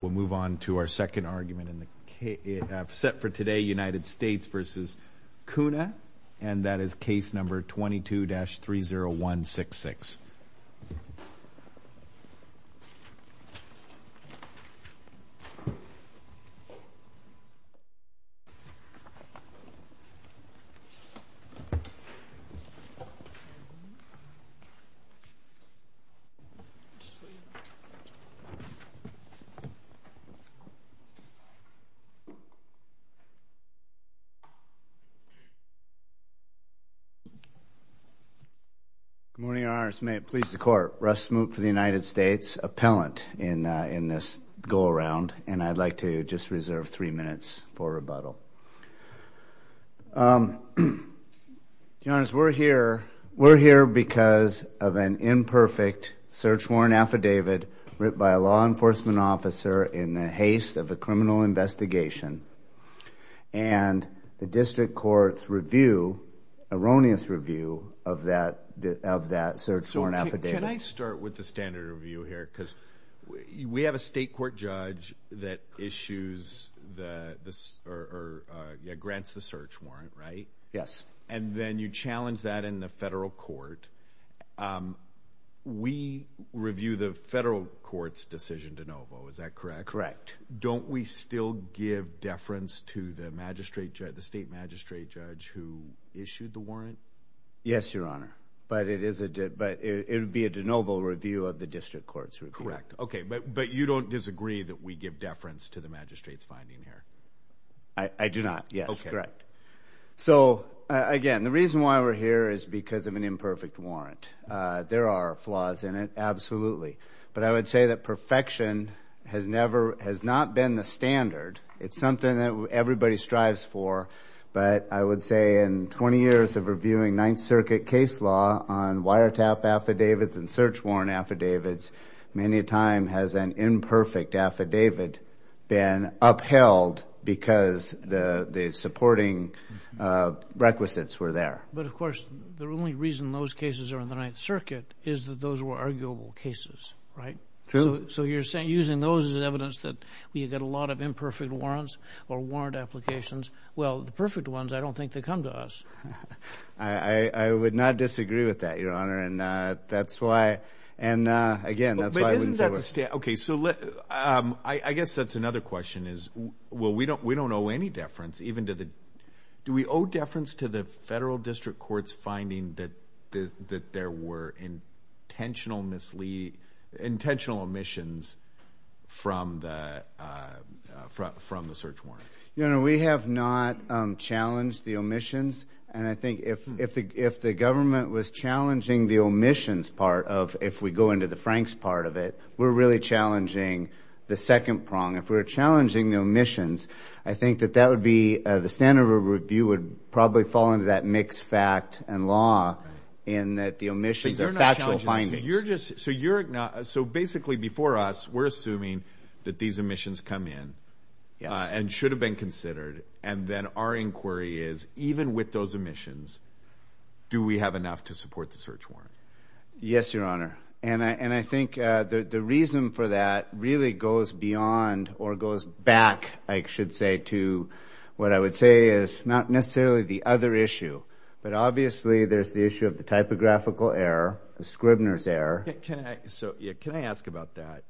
We'll move on to our second argument in the set for today, United States v. Cunha, and then we'll move on to our second argument in the set for today, United States v. Cunha, for Russ Smoot for the United States, appellant in this go-around, and I'd like to just reserve three minutes for rebuttal. Your Honor, we're here because of an imperfect search warrant affidavit written by a law enforcement officer in the haste of a criminal investigation, and the district court's review, erroneous review, of that search warrant affidavit. So, can I start with the standard review here, because we have a state court judge that issues the, or grants the search warrant, right? Yes. And then you challenge that in the federal court. We review the federal court's decision de novo, is that correct? Correct. And don't we still give deference to the magistrate judge, the state magistrate judge who issued the warrant? Yes, Your Honor, but it is a, but it would be a de novo review of the district court's review. Correct. Okay, but you don't disagree that we give deference to the magistrate's finding here? I do not, yes, correct. So again, the reason why we're here is because of an imperfect warrant. There are flaws in it, absolutely, but I would say that perfection has never, has not been the standard. It's something that everybody strives for, but I would say in 20 years of reviewing Ninth Circuit case law on wiretap affidavits and search warrant affidavits, many a time has an imperfect affidavit been upheld because the supporting requisites were there. But of course, the only reason those cases are in the Ninth Circuit is that those were arguable cases, right? True. So you're saying using those as evidence that we get a lot of imperfect warrants or warrant applications. Well, the perfect ones, I don't think they come to us. I would not disagree with that, Your Honor, and that's why, and again, that's why I wouldn't say we're... Okay, so I guess that's another question is, well, we don't owe any deference even to the, do we owe deference to the federal district court's finding that there were intentional mislead, intentional omissions from the search warrant? No, no, we have not challenged the omissions, and I think if the government was challenging the omissions part of, if we go into the Franks part of it, we're really challenging the second prong. If we were challenging the omissions, I think that that would be, the standard review would probably fall into that mixed fact and law in that the omissions are factual findings. So basically, before us, we're assuming that these omissions come in and should have been considered and then our inquiry is, even with those omissions, do we have enough to support the search warrant? Yes, Your Honor. And I think the reason for that really goes beyond or goes back, I should say, to what I would say is not necessarily the other issue, but obviously there's the issue of the typographical error, the Scribner's error. Can I ask about that?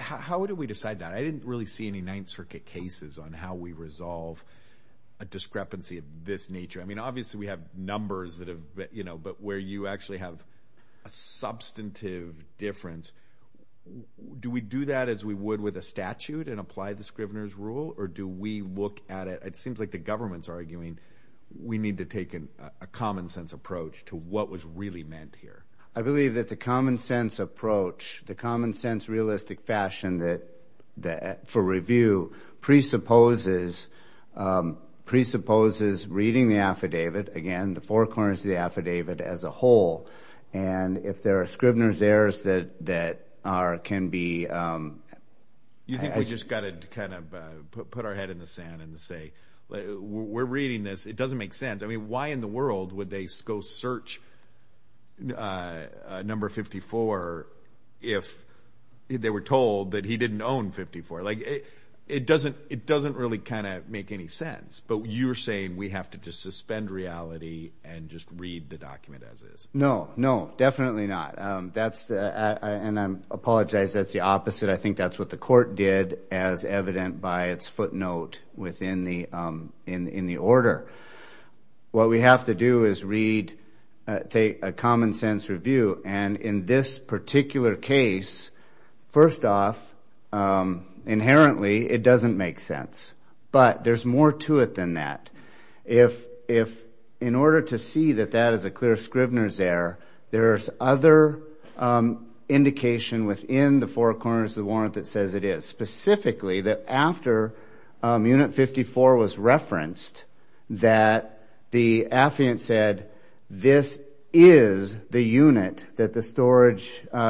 How would we decide that? I didn't really see any Ninth Circuit cases on how we resolve a discrepancy of this nature. I mean, obviously we have numbers that have, but where you actually have a substantive difference, do we do that as we would with a statute and apply the Scribner's rule or do we look at it, it seems like the government's arguing, we need to take a common sense approach to what was really meant here. I believe that the common sense approach, the common sense realistic fashion for review presupposes reading the affidavit, again, the four corners of the affidavit as a whole, and if there are Scribner's errors that can be... You think we just got to kind of put our head in the sand and say, we're reading this, it doesn't make sense. I mean, why in the world would they go search number 54 if they were told that he didn't own 54? Like, it doesn't really kind of make any sense, but you're saying we have to just suspend reality and just read the document as is. No. No, definitely not. That's the... And I apologize, that's the opposite. I think that's what the court did as evident by its footnote within the order. What we have to do is read, take a common sense review, and in this particular case, first off, inherently, it doesn't make sense, but there's more to it than that. In order to see that that is a clear Scribner's error, there's other indication within the four corners of the warrant that says it is, specifically that after unit 54 was referenced that the affiant said, this is the unit that the storage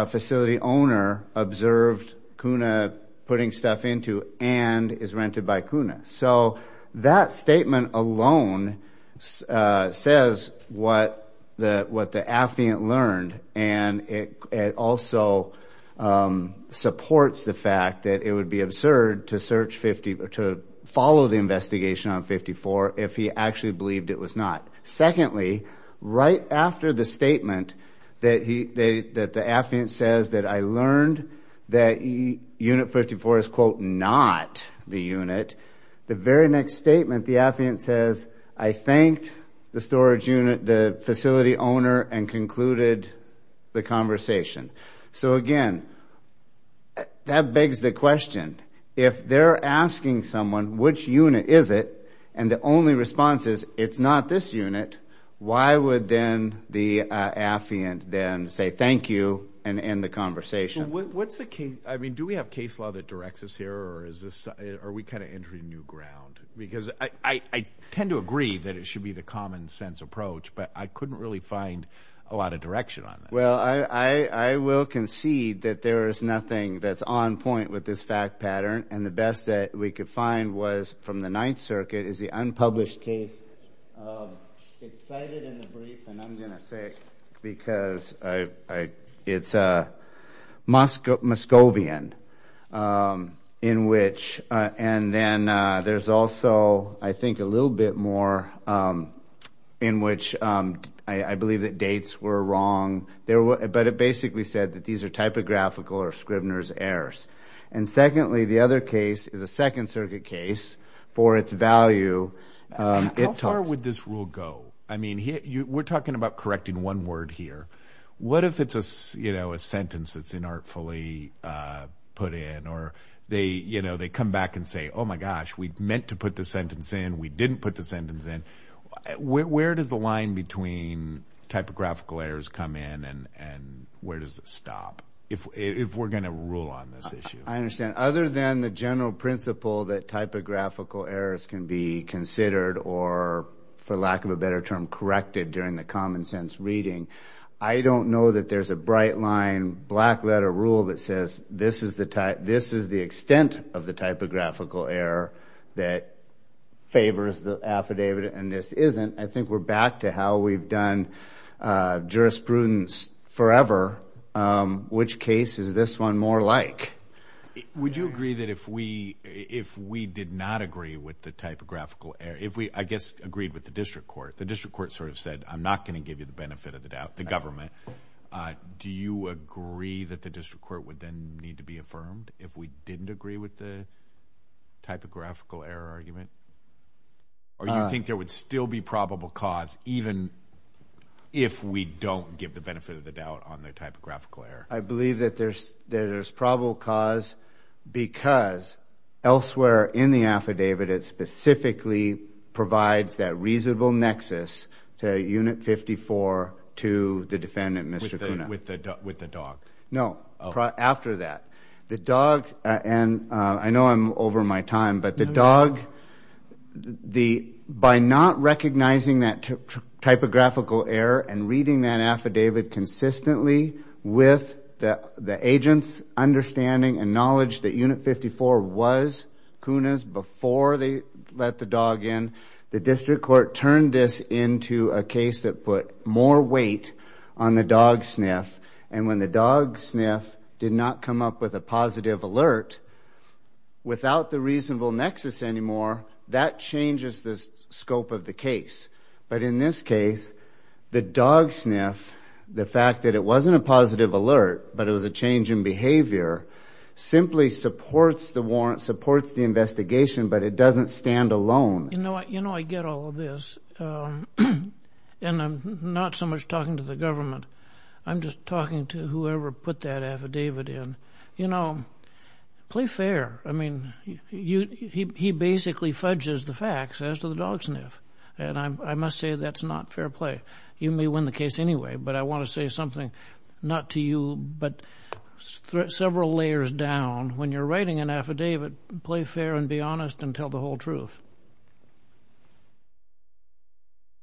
facility owner observed Kuna putting stuff into and is rented by Kuna. So that statement alone says what the affiant learned, and it also supports the fact that it would be absurd to follow the investigation on 54 if he actually believed it was not. Secondly, right after the statement that the affiant says that I learned that unit 54 is quote not the unit, the very next statement, the affiant says, I thanked the storage unit, the facility owner, and concluded the conversation. So again, that begs the question, if they're asking someone which unit is it, and the only response is it's not this unit, why would then the affiant then say thank you and end the conversation? Well, what's the case? I mean, do we have case law that directs us here, or are we kind of entering new ground? Because I tend to agree that it should be the common sense approach, but I couldn't really find a lot of direction on this. Well, I will concede that there is nothing that's on point with this fact pattern, and the best that we could find was from the Ninth Circuit is the unpublished case. It's cited in the brief, and I'm going to say it because it's Muscovian, and then there's also, I think, a little bit more in which I believe that dates were wrong, but it basically said that these are typographical or Scrivener's errors. And secondly, the other case is a Second Circuit case for its value. How far would this rule go? I mean, we're talking about correcting one word here. What if it's a sentence that's inartfully put in, or they come back and say, oh my gosh, we meant to put the sentence in, we didn't put the sentence in. Where does the line between typographical errors come in, and where does it stop, if we're going to rule on this issue? I understand. Other than the general principle that typographical errors can be considered, or for lack of a better term, corrected during the common sense reading, I don't know that there's a bright line, black letter rule that says this is the extent of the typographical error that favors the affidavit, and this isn't. I think we're back to how we've done jurisprudence forever. Which case is this one more like? Would you agree that if we did not agree with the typographical error, if we, I guess, agreed with the district court, the district court sort of said, I'm not going to give you the benefit of the doubt, the government. Do you agree that the district court would then need to be affirmed if we didn't agree with the typographical error argument? Or do you think there would still be probable cause, even if we don't give the benefit of the doubt on the typographical error? I believe that there's probable cause, because elsewhere in the affidavit, it specifically provides that reasonable nexus to unit 54 to the defendant, Mr. Cunha. With the dog? No. After that. The dog, and I know I'm over my time, but the dog, by not recognizing that typographical error and reading that affidavit consistently with the agent's understanding and knowledge that unit 54 was Cunha's before they let the dog in, the district court turned this into a case that put more weight on the dog sniff, and when the dog sniff did not come up with a positive alert, without the reasonable nexus anymore, that changes the scope of the case. But in this case, the dog sniff, the fact that it wasn't a positive alert, but it was a change in behavior, simply supports the warrant, supports the investigation, but it doesn't stand alone. You know what? You know I get all of this, and I'm not so much talking to the government, I'm just talking to whoever put that affidavit in. You know, play fair. I mean, he basically fudges the facts as to the dog sniff, and I must say that's not fair play. But you may win the case anyway, but I want to say something, not to you, but several layers down, when you're writing an affidavit, play fair and be honest and tell the whole truth.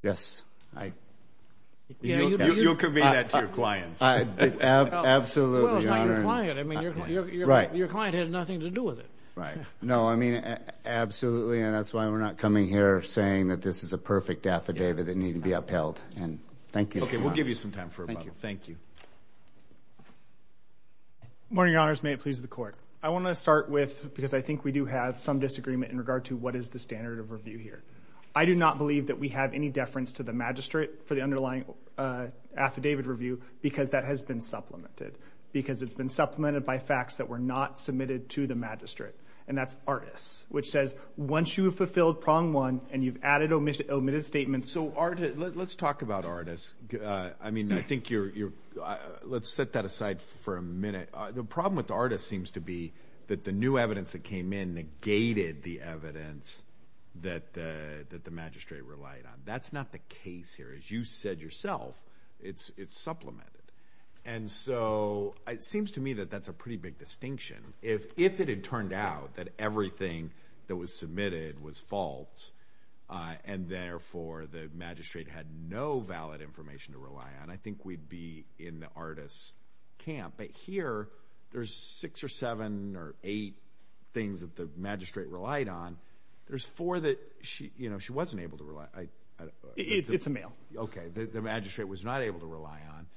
Yes. You'll convene that to your clients. Absolutely, Your Honor. Well, it's not your client. I mean, your client had nothing to do with it. Right. No, I mean, absolutely, and that's why we're not coming here saying that this is a perfect affidavit that needn't be upheld. And thank you, Your Honor. Okay, we'll give you some time for rebuttal. Thank you. Thank you. Morning, Your Honors. May it please the Court. I want to start with, because I think we do have some disagreement in regard to what is the standard of review here. I do not believe that we have any deference to the magistrate for the underlying affidavit review because that has been supplemented, because it's been supplemented by facts that were not submitted to the magistrate, and that's ARTIS, which says once you have fulfilled prong one and you've added omitted statements. So ARTIS, let's talk about ARTIS. I mean, I think you're, let's set that aside for a minute. The problem with ARTIS seems to be that the new evidence that came in negated the evidence that the magistrate relied on. That's not the case here. As you said yourself, it's supplemented. And so, it seems to me that that's a pretty big distinction. If it had turned out that everything that was submitted was false, and therefore the magistrate had no valid information to rely on, I think we'd be in the ARTIS camp. But here, there's six or seven or eight things that the magistrate relied on. There's four that she, you know, she wasn't able to rely on. It's a male. Okay. The magistrate was not able to rely on.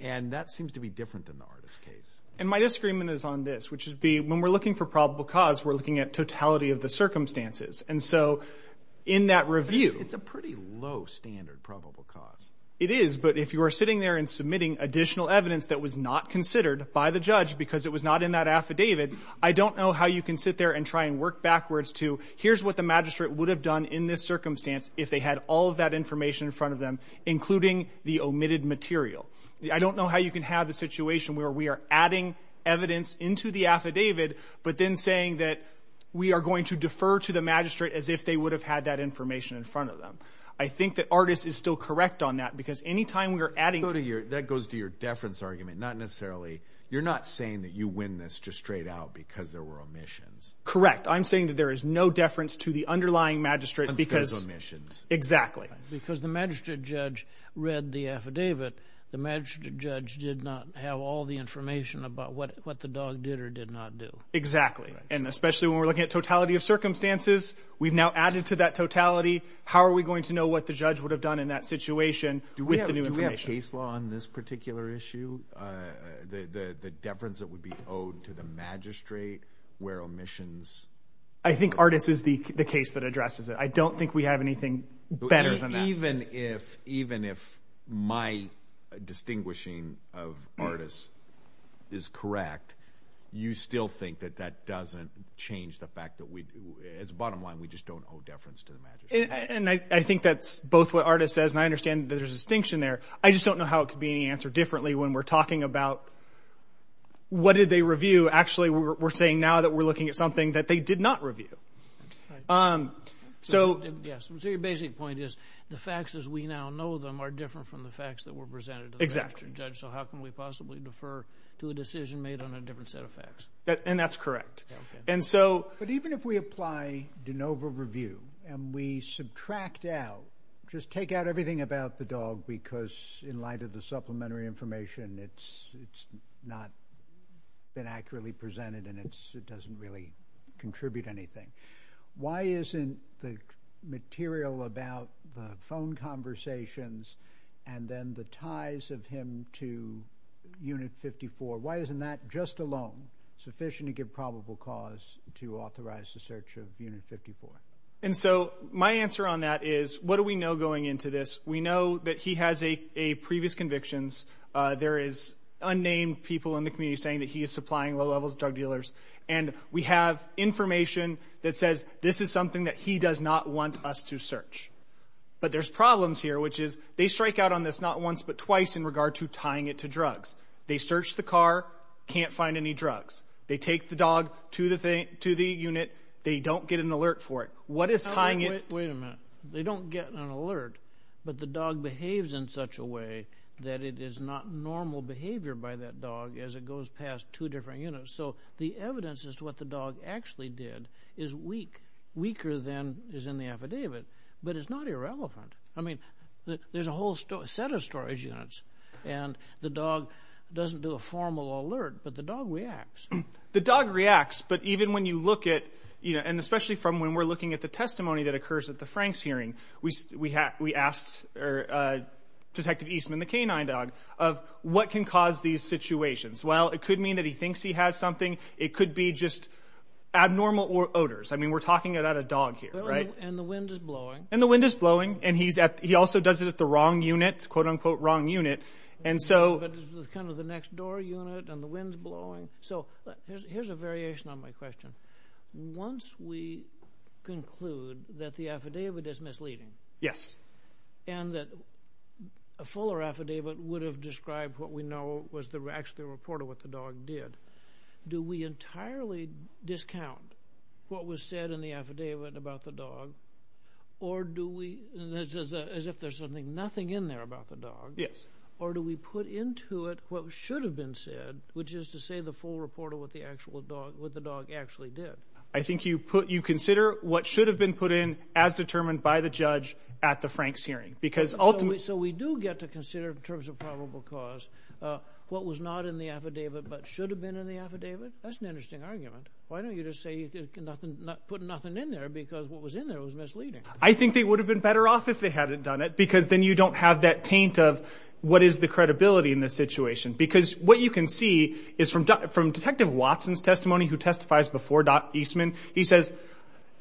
And that seems to be different in the ARTIS case. And my disagreement is on this, which would be, when we're looking for probable cause, we're looking at totality of the circumstances. And so, in that review... It's a pretty low standard probable cause. It is. But if you are sitting there and submitting additional evidence that was not considered by the judge because it was not in that affidavit, I don't know how you can sit there and try and work backwards to, here's what the magistrate would have done in this circumstance if they had all of that information in front of them, including the omitted material. I don't know how you can have the situation where we are adding evidence into the affidavit, but then saying that we are going to defer to the magistrate as if they would have had that information in front of them. I think that ARTIS is still correct on that, because any time we are adding... That goes to your deference argument, not necessarily... You're not saying that you win this just straight out because there were omissions. Correct. I'm saying that there is no deference to the underlying magistrate because... Instead of omissions. Exactly. Because the magistrate judge read the affidavit. The magistrate judge did not have all the information about what the dog did or did not do. Exactly. And especially when we're looking at totality of circumstances, we've now added to that totality. How are we going to know what the judge would have done in that situation with the new information? Do we have case law on this particular issue? The deference that would be owed to the magistrate where omissions... I think ARTIS is the case that addresses it. I don't think we have anything better than that. Even if my distinguishing of ARTIS is correct, you still think that that doesn't change the fact that we... As a bottom line, we just don't owe deference to the magistrate. And I think that's both what ARTIS says, and I understand that there's a distinction there. I just don't know how it could be answered differently when we're talking about what did they review. Actually, we're saying now that we're looking at something that they did not review. So your basic point is the facts as we now know them are different from the facts that were presented to the magistrate judge. Exactly. So how can we possibly defer to a decision made on a different set of facts? And that's correct. Okay. But even if we apply de novo review and we subtract out, just take out everything about the dog because in light of the supplementary information, it's not been accurately presented and it doesn't really contribute anything. Why isn't the material about the phone conversations and then the ties of him to Unit 54, why isn't that just a loan sufficient to give probable cause to authorize the search of Unit 54? And so my answer on that is what do we know going into this? We know that he has a previous convictions. There is unnamed people in the community saying that he is supplying low levels drug dealers. And we have information that says this is something that he does not want us to search. But there's problems here which is they strike out on this not once but twice in regard to tying it to drugs. They search the car, can't find any drugs. They take the dog to the unit, they don't get an alert for it. What is tying it? Wait a minute. They don't get an alert but the dog behaves in such a way that it is not normal behavior by that dog as it goes past two different units. So the evidence as to what the dog actually did is weak, weaker than is in the affidavit but it's not irrelevant. I mean, there's a whole set of storage units and the dog doesn't do a formal alert but the dog reacts. The dog reacts but even when you look at and especially from when we're looking at the Frank's hearing, we asked Detective Eastman, the canine dog, of what can cause these situations. Well, it could mean that he thinks he has something. It could be just abnormal odors. I mean, we're talking about a dog here, right? And the wind is blowing. And the wind is blowing and he also does it at the wrong unit, quote unquote wrong unit. And so... But it's kind of the next door unit and the wind's blowing. So here's a variation on my question. Once we conclude that the affidavit is misleading and that a fuller affidavit would have described what we know was actually a report of what the dog did, do we entirely discount what was said in the affidavit about the dog or do we... As if there's something, nothing in there about the dog or do we put into it what should have been said, which is to say the full report of what the dog actually did? I think you consider what should have been put in as determined by the judge at the Frank's hearing because ultimately... So we do get to consider in terms of probable cause what was not in the affidavit but should have been in the affidavit? That's an interesting argument. Why don't you just say you put nothing in there because what was in there was misleading? I think they would have been better off if they hadn't done it because then you don't have that taint of what is the credibility in this situation. Because what you can see is from Detective Watson's testimony who testifies before Dot Eastman, he says,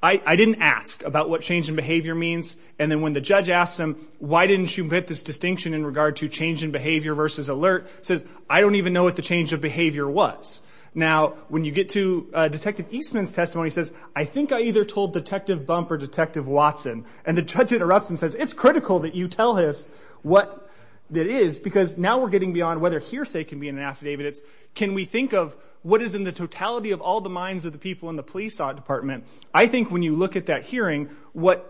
I didn't ask about what change in behavior means and then when the judge asked him, why didn't you make this distinction in regard to change in behavior versus alert? He says, I don't even know what the change of behavior was. Now when you get to Detective Eastman's testimony, he says, I think I either told Detective Bump or Detective Watson and the judge interrupts him and says, it's critical that you tell us what it is because now we're getting beyond whether hearsay can be in an affidavit. Can we think of what is in the totality of all the minds of the people in the police department? I think when you look at that hearing, what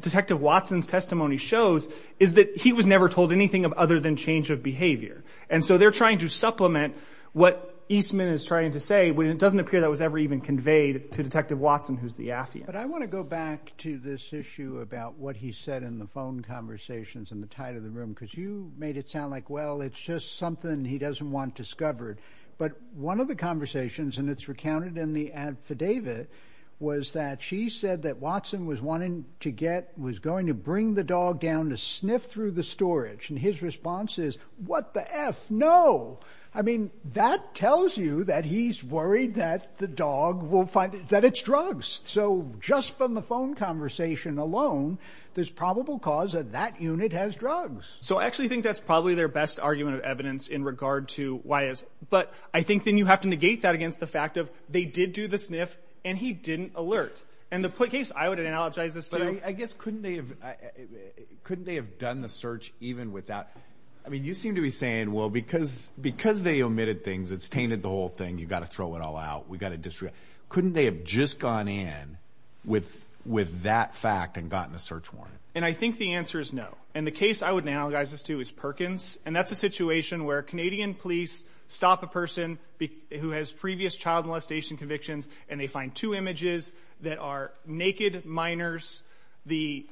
Detective Watson's testimony shows is that he was never told anything other than change of behavior. And so they're trying to supplement what Eastman is trying to say when it doesn't appear that was ever even conveyed to Detective Watson who's the affidavit. But I want to go back to this issue about what he said in the phone conversations in the tide of the room because you made it sound like, well, it's just something he doesn't want discovered. But one of the conversations, and it's recounted in the affidavit, was that she said that Watson was wanting to get, was going to bring the dog down to sniff through the storage. And his response is, what the F? No. I mean, that tells you that he's worried that the dog will find that it's drugs. So just from the phone conversation alone, there's probable cause of that unit has drugs. So I actually think that's probably their best argument of evidence in regard to why is. But I think then you have to negate that against the fact of they did do the sniff and he didn't alert. And the case, I would analogize this, but I guess couldn't they have, couldn't they have done the search even without, I mean, you seem to be saying, well, because, because they omitted things, it's tainted the whole thing. You got to throw it all out. We got to distribute. Couldn't they have just gone in with, with that fact and gotten a search warrant? And I think the answer is no. And the case I would analogize this to is Perkins. And that's a situation where Canadian police stop a person who has previous child molestation convictions and they find two images that are naked minors. The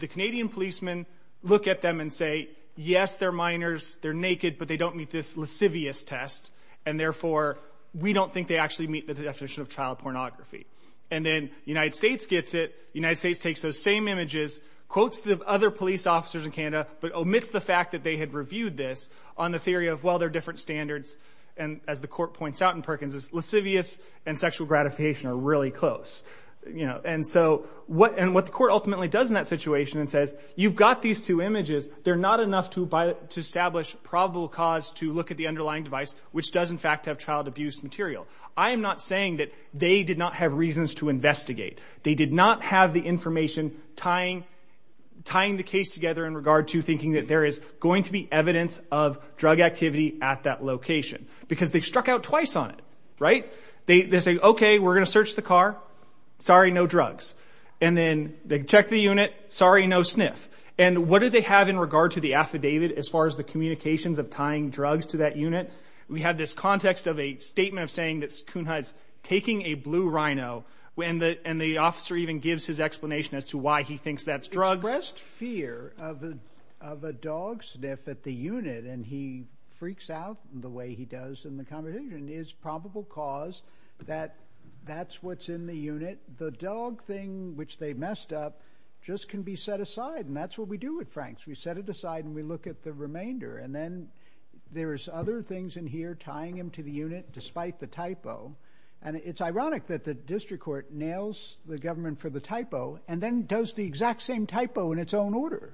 Canadian policemen look at them and say, yes, they're minors, they're naked, but they don't meet this lascivious test. And therefore, we don't think they actually meet the definition of child pornography. And then United States gets it. United States takes those same images, quotes the other police officers in Canada, but omits the fact that they had reviewed this on the theory of, well, they're different standards. And as the court points out in Perkins, this lascivious and sexual gratification are really close. You know, and so what, and what the court ultimately does in that situation and says, you've got these two images, they're not enough to buy, to establish probable cause to look at the underlying device, which does in fact have child abuse material. I am not saying that they did not have reasons to investigate. They did not have the information tying, tying the case together in regard to thinking that there is going to be evidence of drug activity at that location because they struck out twice on it, right? They, they say, okay, we're going to search the car, sorry, no drugs. And then they check the unit, sorry, no sniff. And what do they have in regard to the affidavit as far as the communications of tying drugs to that unit? We have this context of a statement of saying that Kuhnhut's taking a blue rhino when the, and the officer even gives his explanation as to why he thinks that's drugs. Expressed fear of a, of a dog sniff at the unit. And he freaks out the way he does in the conversation is probable cause that that's what's in the unit. The dog thing, which they messed up just can be set aside and that's what we do with Franks. We set it aside and we look at the remainder and then there's other things in here tying him to the unit despite the typo. And it's ironic that the district court nails the government for the typo and then does the exact same typo in its own order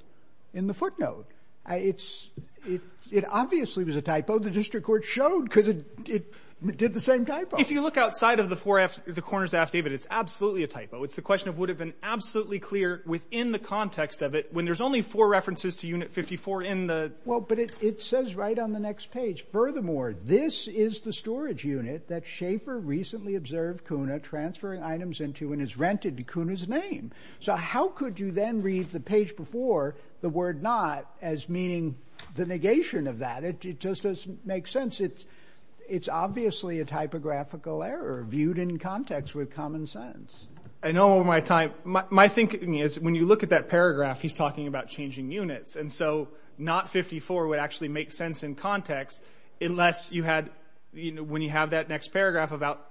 in the footnote. It's it, it obviously was a typo. The district court showed cause it, it did the same type. If you look outside of the four F the corners affidavit, it's absolutely a typo. It's the question of would have been absolutely clear within the context of it when there's only four references to unit 54 in the, well, but it, it says right on the next page, furthermore, this is the storage unit that Schaefer recently observed Kuna transferring items into and is rented to Kuna's name. So how could you then read the page before the word not as meaning the negation of that? It just doesn't make sense. It's, it's obviously a typographical error viewed in context with common sense. I know my time, my thinking is when you look at that paragraph, he's talking about changing units. And so not 54 would actually make sense in context unless you had, you know, when you have that next paragraph about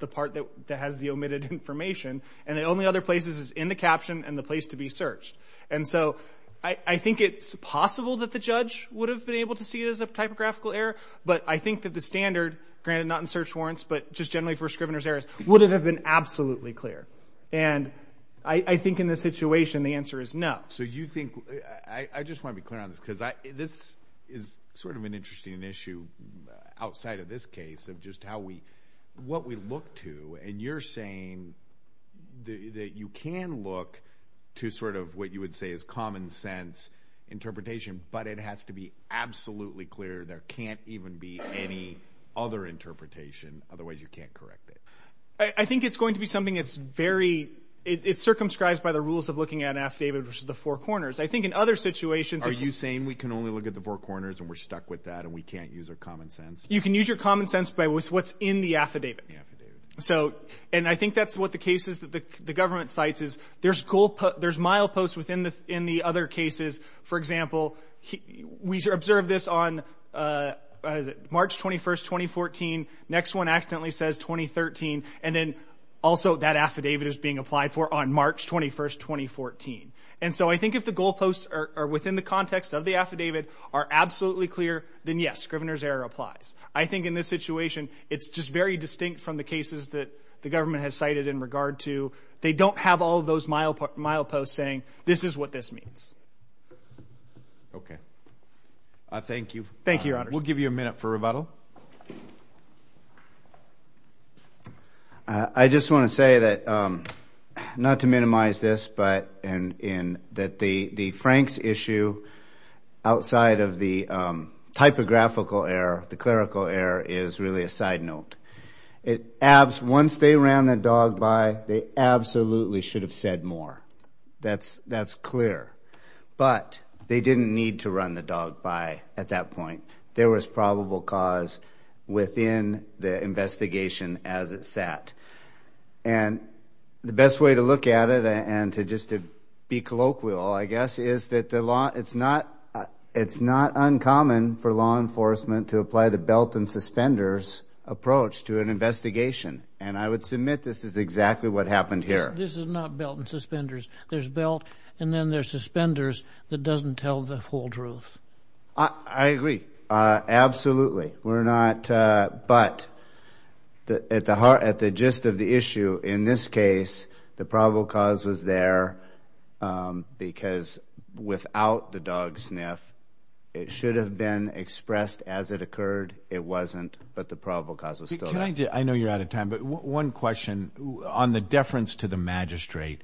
the part that has the omitted information and the only other places is in the caption and the place to be searched. And so I think it's possible that the judge would have been able to see it as a typographical error. But I think that the standard granted not in search warrants, but just generally for scrivener's errors, would it have been absolutely clear? And I think in this situation, the answer is no. So you think, I just want to be clear on this because I, this is sort of an interesting issue outside of this case of just how we, what we look to. And you're saying that you can look to sort of what you would say is common sense interpretation, but it has to be absolutely clear. There can't even be any other interpretation, otherwise you can't correct it. I think it's going to be something that's very, it's circumscribed by the rules of looking at an affidavit, which is the four corners. I think in other situations. Are you saying we can only look at the four corners and we're stuck with that and we can't use our common sense? You can use your common sense by what's in the affidavit. So and I think that's what the case is that the government cites is there's goal, there's mileposts within the, in the other cases. For example, we observed this on March 21st, 2014. Next one accidentally says 2013. And then also that affidavit is being applied for on March 21st, 2014. And so I think if the goalposts are within the context of the affidavit are absolutely clear then yes, Scrivener's error applies. I think in this situation it's just very distinct from the cases that the government has cited in regard to. They don't have all of those mileposts saying this is what this means. Okay. Thank you. Thank you, Your Honor. We'll give you a minute for rebuttal. I just want to say that not to minimize this, but and in that the Frank's issue outside of the typographical error, the clerical error is really a side note. It abs, once they ran the dog by, they absolutely should have said more. That's, that's clear. But they didn't need to run the dog by at that point. There was probable cause within the investigation as it sat. And the best way to look at it and to just to be colloquial, I guess, is that the law, it's not, it's not uncommon for law enforcement to apply the belt and suspenders approach to an investigation. And I would submit this is exactly what happened here. This is not belt and suspenders. There's belt and then there's suspenders that doesn't tell the whole truth. I agree. Absolutely. We're not, but at the heart, at the gist of the issue in this case, the probable cause was there because without the dog sniff, it should have been expressed as it occurred. It wasn't. But the probable cause was still there. Can I just, I know you're out of time, but one question on the deference to the magistrate.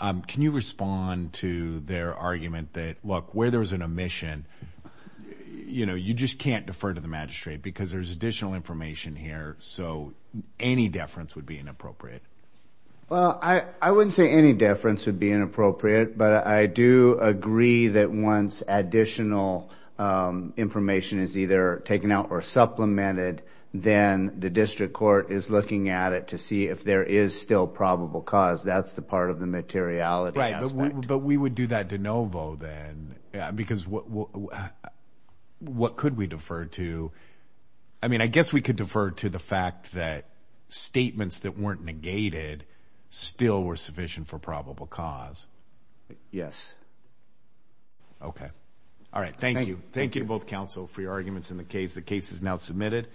Can you respond to their argument that, look, where there was an omission, you know, you just can't defer to the magistrate because there's additional information here. So any deference would be inappropriate. Well, I, I wouldn't say any deference would be inappropriate, but I do agree that once additional information is either taken out or supplemented, then the district court is looking at it to see if there is still probable cause. That's the part of the materiality aspect. But we would do that de novo then because what, what could we defer to? I mean, I guess we could defer to the fact that statements that weren't negated still were sufficient for probable cause. Yes. Okay. All right. Thank you. Thank you both counsel for your arguments in the case. The case is now submitted.